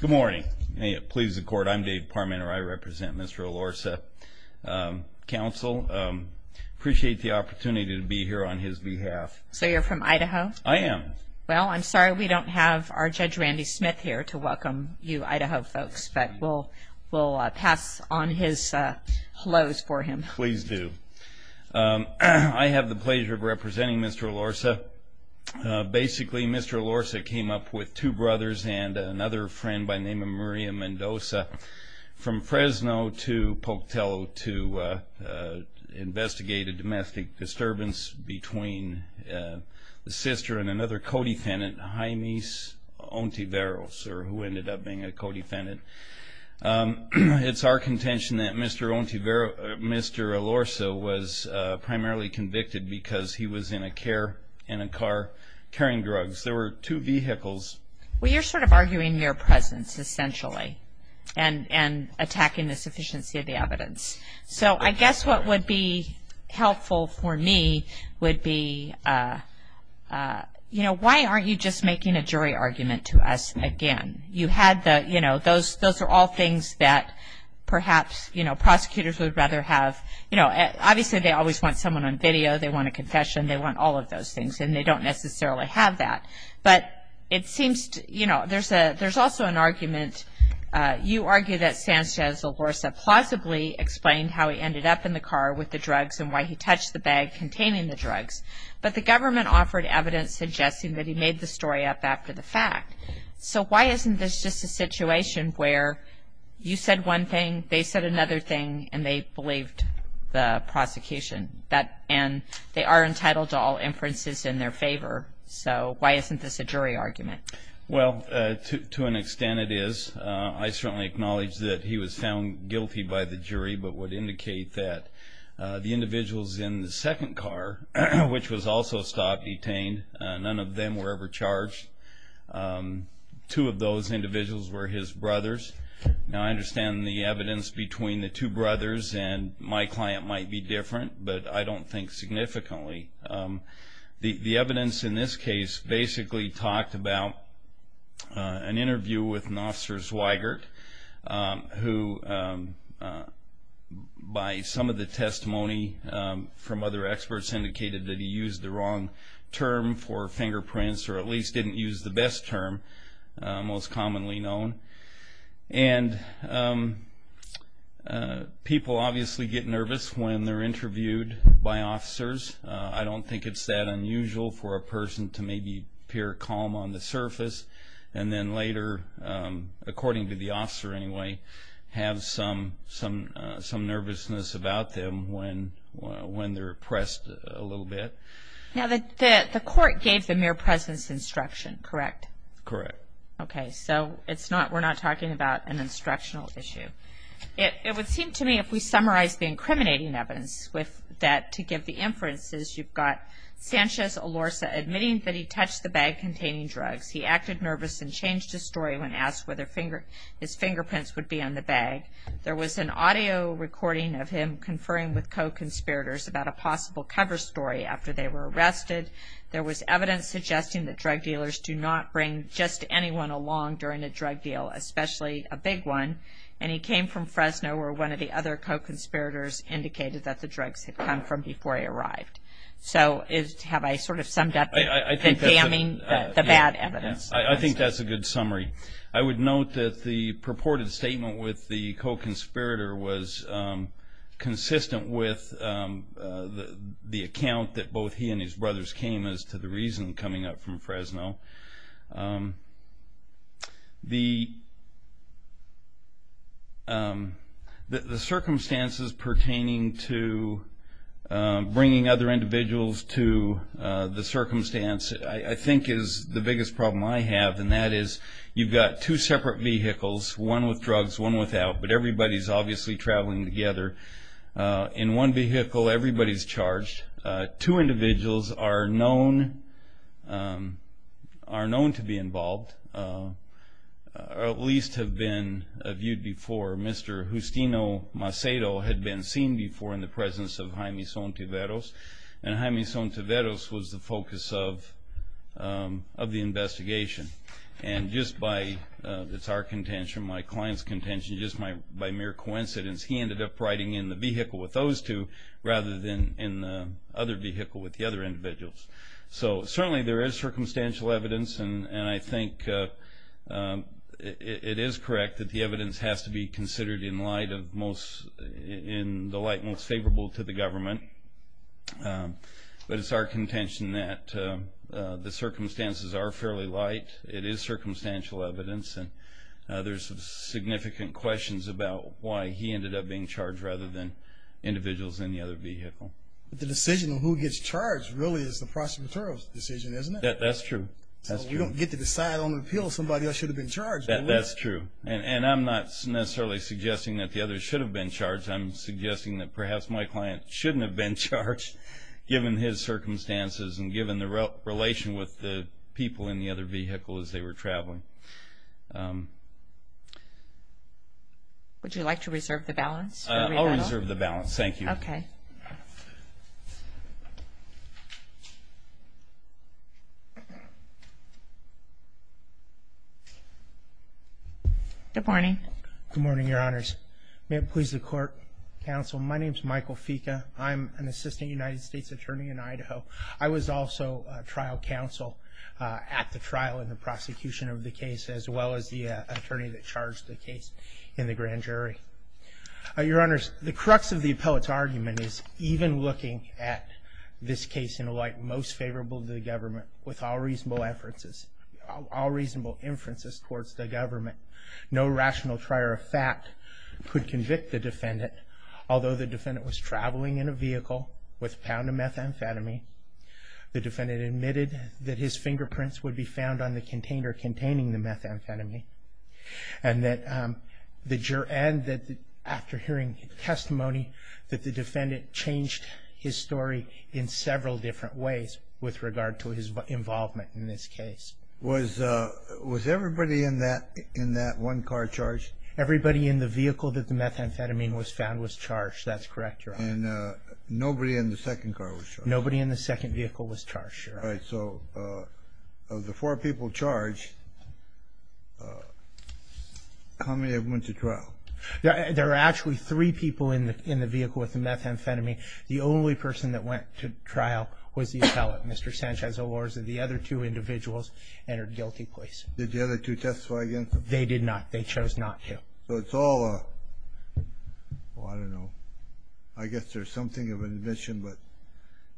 Good morning. Please accord. I'm Dave Parmenter. I represent Mr. Elorza's council. I appreciate the opportunity to be here on his behalf. So you're from Idaho? I am. Well, I'm sorry we don't have our Judge Randy Smith here to welcome you Idaho folks, but we'll pass on his hellos for him. Please do. I have the pleasure of representing Mr. Elorza. Basically, Mr. Elorza came up with two brothers and another friend by the name of Maria Mendoza from Fresno to Pocatello to investigate a domestic disturbance between the sister and another co-defendant, Jaime Ontiveros, who ended up being a co-defendant. It's our contention that Mr. Elorza was primarily convicted because he was in a car carrying drugs. There were two vehicles. Well, you're sort of arguing mere presence, essentially, and attacking the sufficiency of the evidence. So I guess what would be helpful for me would be, you know, why aren't you just making a jury argument to us again? You had the, you know, those are all things that perhaps, you know, prosecutors would rather have. You know, obviously they always want someone on video. They want a confession. They want all of those things, and they don't necessarily have that. But it seems, you know, there's also an argument. You argue that Sanchez Elorza plausibly explained how he ended up in the car with the drugs and why he touched the bag containing the drugs, but the government offered evidence suggesting that he made the story up after the fact. So why isn't this just a situation where you said one thing, they said another thing, and they believed the prosecution, and they are entitled to all inferences in their favor? So why isn't this a jury argument? Well, to an extent it is. I certainly acknowledge that he was found guilty by the jury, but would indicate that the individuals in the second car, which was also stopped, detained, none of them were ever charged. Two of those individuals were his brothers. Now I understand the evidence between the two brothers and my client might be different, but I don't think significantly. The evidence in this case basically talked about an interview with an officer, Zweigert, who by some of the testimony from other experts indicated that he used the wrong term for fingerprints or at least didn't use the best term most commonly known. And people obviously get nervous when they're interviewed by officers. I don't think it's that unusual for a person to maybe appear calm on the surface, and then later, according to the officer anyway, have some nervousness about them when they're pressed a little bit. Now the court gave the mere presence instruction, correct? Correct. Okay, so we're not talking about an instructional issue. It would seem to me if we summarized the incriminating evidence with that to give the inferences, you've got Sanchez Olorza admitting that he touched the bag containing drugs. He acted nervous and changed his story when asked whether his fingerprints would be on the bag. There was an audio recording of him conferring with co-conspirators about a possible cover story after they were arrested. There was evidence suggesting that drug dealers do not bring just anyone along during a drug deal, especially a big one. And he came from Fresno where one of the other co-conspirators indicated that the drugs had come from before he arrived. So have I sort of summed up the damning, the bad evidence? I think that's a good summary. I would note that the purported statement with the co-conspirator was consistent with the account that both he and his brothers came as to the reason coming up from Fresno. The circumstances pertaining to bringing other individuals to the circumstance I think is the biggest problem I have, and that is you've got two separate vehicles, one with drugs, one without, but everybody's obviously traveling together. In one vehicle, everybody's charged. Two individuals are known to be involved, or at least have been viewed before. Mr. Justino Macedo had been seen before in the presence of Jaime Sontiveros, and Jaime Sontiveros was the focus of the investigation. And just by, it's our contention, my client's contention, just by mere coincidence, he ended up riding in the vehicle with those two rather than in the other vehicle with the other individuals. So certainly there is circumstantial evidence, and I think it is correct that the evidence has to be considered in light of most, in the light most favorable to the government. But it's our contention that the circumstances are fairly light. It is circumstantial evidence, and there's significant questions about why he ended up being charged rather than individuals in the other vehicle. But the decision on who gets charged really is the prosecutor's decision, isn't it? That's true. So we don't get to decide on the appeal if somebody else should have been charged. That's true. And I'm not necessarily suggesting that the others should have been charged. I'm suggesting that perhaps my client shouldn't have been charged given his circumstances and given the relation with the people in the other vehicle as they were traveling. Would you like to reserve the balance? I'll reserve the balance. Thank you. Okay. Good morning. Good morning, Your Honors. May it please the Court, Counsel, my name is Michael Fica. I'm an Assistant United States Attorney in Idaho. I was also trial counsel at the trial in the prosecution of the case as well as the attorney that charged the case in the grand jury. Your Honors, the crux of the appellate's argument is even looking at this case in light most favorable to the government with all reasonable inferences, all reasonable inferences towards the government, although the defendant was traveling in a vehicle with a pound of methamphetamine, the defendant admitted that his fingerprints would be found on the container containing the methamphetamine, and that after hearing testimony that the defendant changed his story in several different ways with regard to his involvement in this case. Was everybody in that one car charged? Everybody in the vehicle that the methamphetamine was found was charged. That's correct, Your Honor. And nobody in the second car was charged? Nobody in the second vehicle was charged, Your Honor. All right. So of the four people charged, how many went to trial? There were actually three people in the vehicle with the methamphetamine. The only person that went to trial was the appellate, Mr. Sanchez-Elorza. The other two individuals entered guilty place. Did the other two testify against them? They did not. They chose not to. So it's all a, well, I don't know. I guess there's something of an admission, but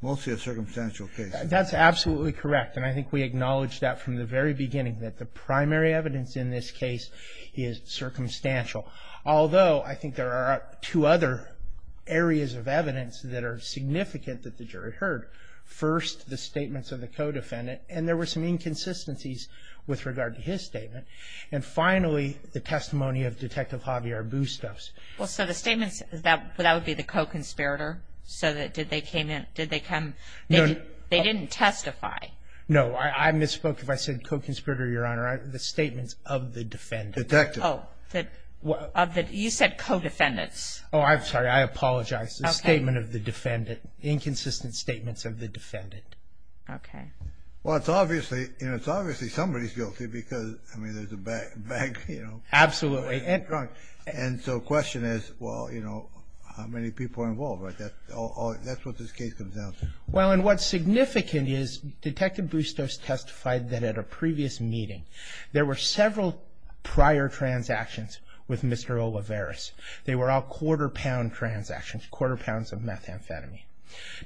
mostly a circumstantial case. That's absolutely correct, and I think we acknowledged that from the very beginning, that the primary evidence in this case is circumstantial, although I think there are two other areas of evidence that are significant that the jury heard. First, the statements of the co-defendant, and there were some inconsistencies with regard to his statement. And finally, the testimony of Detective Javier Bustos. Well, so the statements, that would be the co-conspirator? So did they come, they didn't testify? No. I misspoke if I said co-conspirator, Your Honor. The statements of the defendant. Detective. You said co-defendants. Oh, I'm sorry. I apologize. Okay. The statement of the defendant. Inconsistent statements of the defendant. Okay. Well, it's obviously, you know, it's obviously somebody's guilty because, I mean, there's a bank, you know. Absolutely. And so the question is, well, you know, how many people are involved? That's what this case comes down to. Well, and what's significant is Detective Bustos testified that at a previous meeting, there were several prior transactions with Mr. Olivares. They were all quarter pound transactions, quarter pounds of methamphetamine.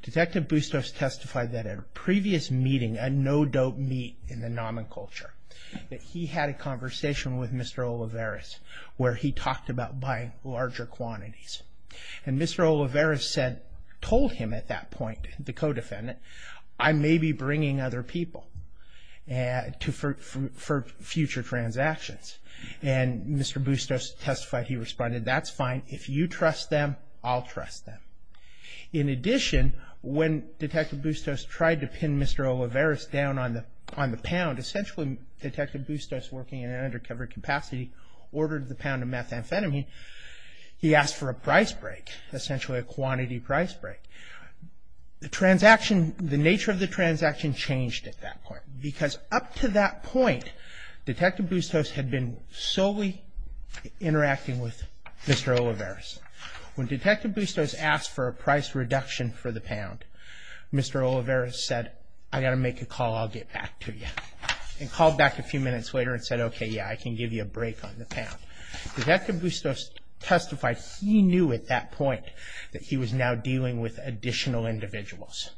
Detective Bustos testified that at a previous meeting, a no-dope meet in the nomen culture, that he had a conversation with Mr. Olivares where he talked about buying larger quantities. And Mr. Olivares said, told him at that point, the co-defendant, I may be bringing other people for future transactions. And Mr. Bustos testified, he responded, that's fine. If you trust them, I'll trust them. In addition, when Detective Bustos tried to pin Mr. Olivares down on the pound, essentially Detective Bustos, working in an undercover capacity, ordered the pound of methamphetamine. He asked for a price break, essentially a quantity price break. The transaction, the nature of the transaction changed at that point because up to that point, Detective Bustos had been solely interacting with Mr. Olivares. When Detective Bustos asked for a price reduction for the pound, Mr. Olivares said, I got to make a call, I'll get back to you. And called back a few minutes later and said, okay, yeah, I can give you a break on the pound. Detective Bustos testified, he knew at that point, that he was now dealing with additional individuals.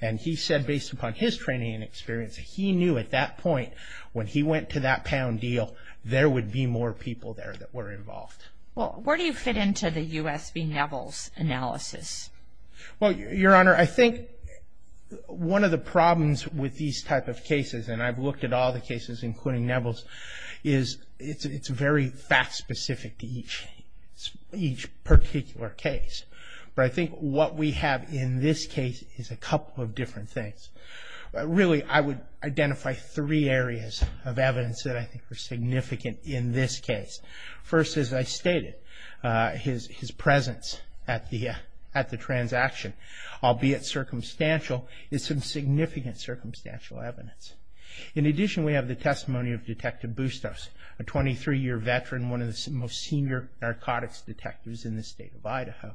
And he said, based upon his training and experience, that he knew at that point, when he went to that pound deal, there would be more people there that were involved. Well, where do you fit into the U.S. v. Neville's analysis? Well, Your Honor, I think one of the problems with these type of cases, and I've looked at all the cases, including Neville's, is it's very fact specific to each particular case. But I think what we have in this case is a couple of different things. Really, I would identify three areas of evidence that I think are significant in this case. First, as I stated, his presence at the transaction, albeit circumstantial, is some significant circumstantial evidence. In addition, we have the testimony of Detective Bustos, a 23-year veteran, one of the most senior narcotics detectives in the state of Idaho,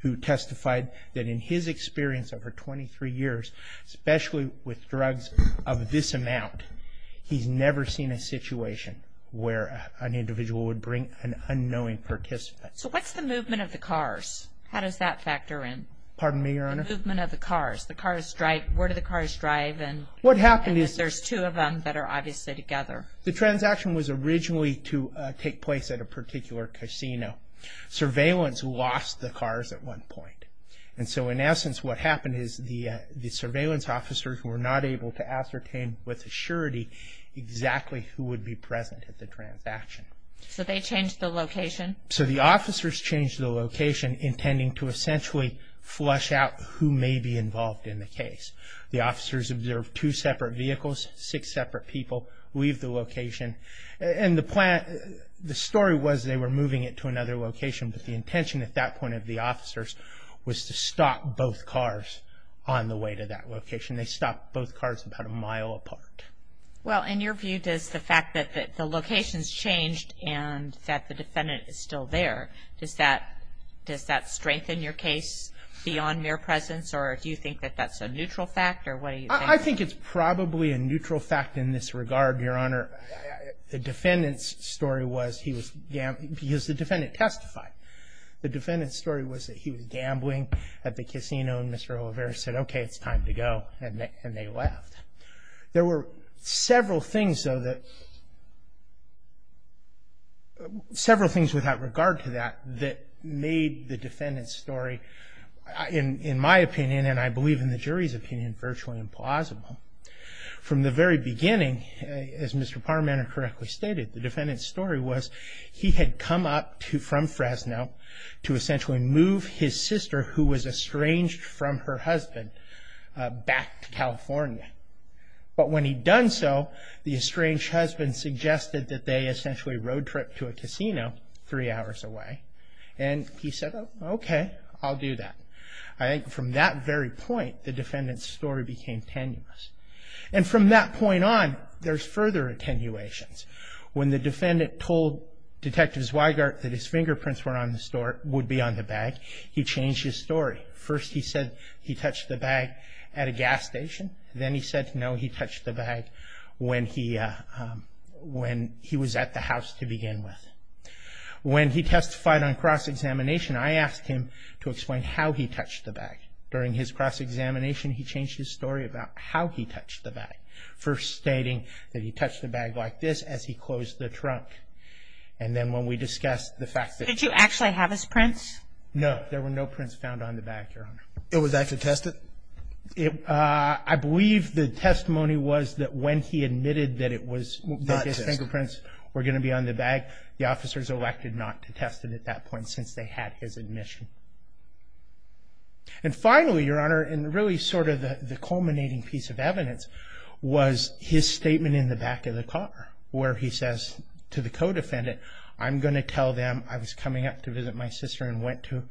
who testified that in his experience over 23 years, especially with drugs of this amount, he's never seen a situation where an individual would bring an unknowing participant. So what's the movement of the cars? How does that factor in? Pardon me, Your Honor? The movement of the cars. Where do the cars drive? What happened is... And there's two of them that are obviously together. The transaction was originally to take place at a particular casino. Surveillance lost the cars at one point. And so in essence, what happened is the surveillance officers were not able to ascertain with assurity exactly who would be present at the transaction. So they changed the location? So the officers changed the location, intending to essentially flush out who may be involved in the case. The officers observed two separate vehicles, six separate people leave the location. And the story was they were moving it to another location, but the intention at that point of the officers was to stop both cars on the way to that location. They stopped both cars about a mile apart. Well, in your view, does the fact that the location's changed and that the defendant is still there, does that strengthen your case beyond mere presence? Or do you think that that's a neutral fact? Or what do you think? I think it's probably a neutral fact in this regard, Your Honor. The defendant's story was he was gambling. Because the defendant testified. The defendant's story was that he was gambling at the casino, and Mr. O'Leary said, okay, it's time to go, and they left. There were several things, though, that—several things without regard to that, that made the defendant's story, in my opinion, and I believe in the jury's opinion, virtually implausible. From the very beginning, as Mr. Parmenter correctly stated, the defendant's story was he had come up from Fresno to essentially move his sister, who was estranged from her husband, back to California. But when he'd done so, the estranged husband suggested that they essentially road-tripped to a casino three hours away, and he said, okay, I'll do that. I think from that very point, the defendant's story became tenuous. And from that point on, there's further attenuations. When the defendant told Detective Zweigart that his fingerprints were on the store, or would be on the bag, he changed his story. First he said he touched the bag at a gas station. Then he said no, he touched the bag when he was at the house to begin with. When he testified on cross-examination, I asked him to explain how he touched the bag. During his cross-examination, he changed his story about how he touched the bag, first stating that he touched the bag like this as he closed the trunk. And then when we discussed the fact that he touched the bag. Did you actually have his prints? No. There were no prints found on the bag, Your Honor. It was actually tested? I believe the testimony was that when he admitted that his fingerprints were going to be on the bag, the officers elected not to test it at that point since they had his admission. And finally, Your Honor, and really sort of the culminating piece of evidence, was his statement in the back of the car where he says to the co-defendant, I'm going to tell them I was coming up to visit my sister and went to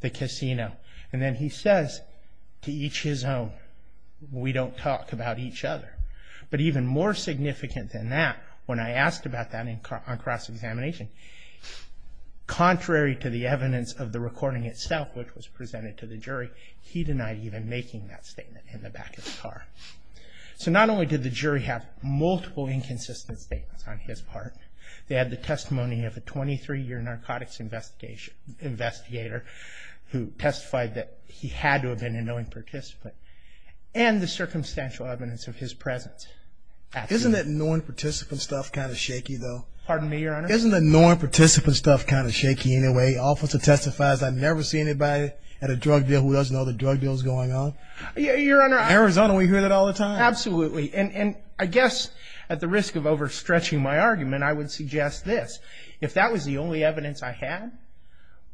the casino. And then he says to each his own, we don't talk about each other. But even more significant than that, when I asked about that on cross-examination, contrary to the evidence of the recording itself, which was presented to the jury, he denied even making that statement in the back of the car. So not only did the jury have multiple inconsistent statements on his part, they had the testimony of a 23-year narcotics investigator who testified that he had to have been an annoying participant, and the circumstantial evidence of his presence. Isn't that annoying participant stuff kind of shaky, though? Pardon me, Your Honor? Isn't that annoying participant stuff kind of shaky anyway? The officer testifies, I've never seen anybody at a drug deal who doesn't know the drug deal is going on. Your Honor, I... In Arizona, we hear that all the time. Absolutely. And I guess at the risk of overstretching my argument, I would suggest this. If that was the only evidence I had,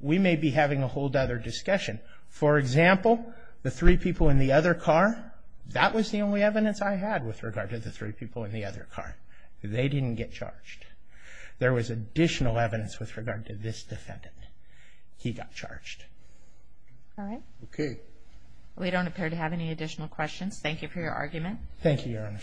we may be having a whole other discussion. For example, the three people in the other car, that was the only evidence I had with regard to the three people in the other car. They didn't get charged. There was additional evidence with regard to this defendant. He got charged. All right. Okay. We don't appear to have any additional questions. Thank you for your argument. Thank you, Your Honor.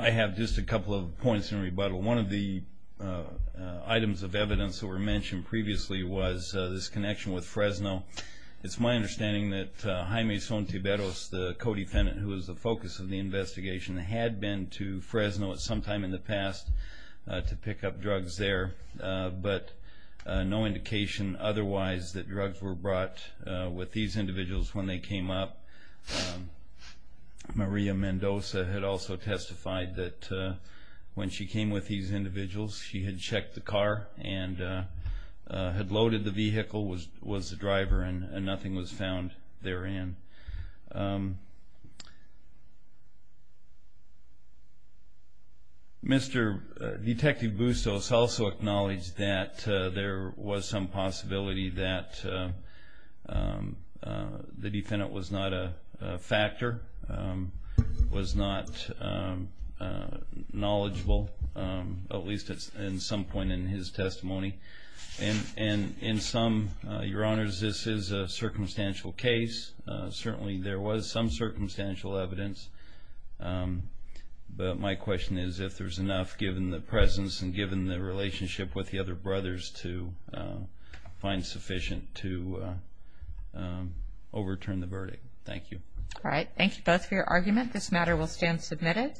I have just a couple of points in rebuttal. One of the items of evidence that were mentioned previously was this connection with Fresno. It's my understanding that Jaime Sontiberos, the co-defendant, who was the focus of the investigation, had been to Fresno at some time in the past to pick up drugs there, but no indication otherwise that drugs were brought with these individuals when they came up. Maria Mendoza had also testified that when she came with these individuals, she had checked the car and had loaded the vehicle, was the driver, and nothing was found therein. Mr. Detective Bustos also acknowledged that there was some possibility that the defendant was not a factor, was not knowledgeable, at least at some point in his testimony. And in sum, Your Honors, this is a circumstantial case. Certainly there was some circumstantial evidence, but my question is if there's enough given the presence and given the relationship with the other brothers to find sufficient to overturn the verdict. Thank you. All right. Thank you both for your argument. This matter will stand submitted.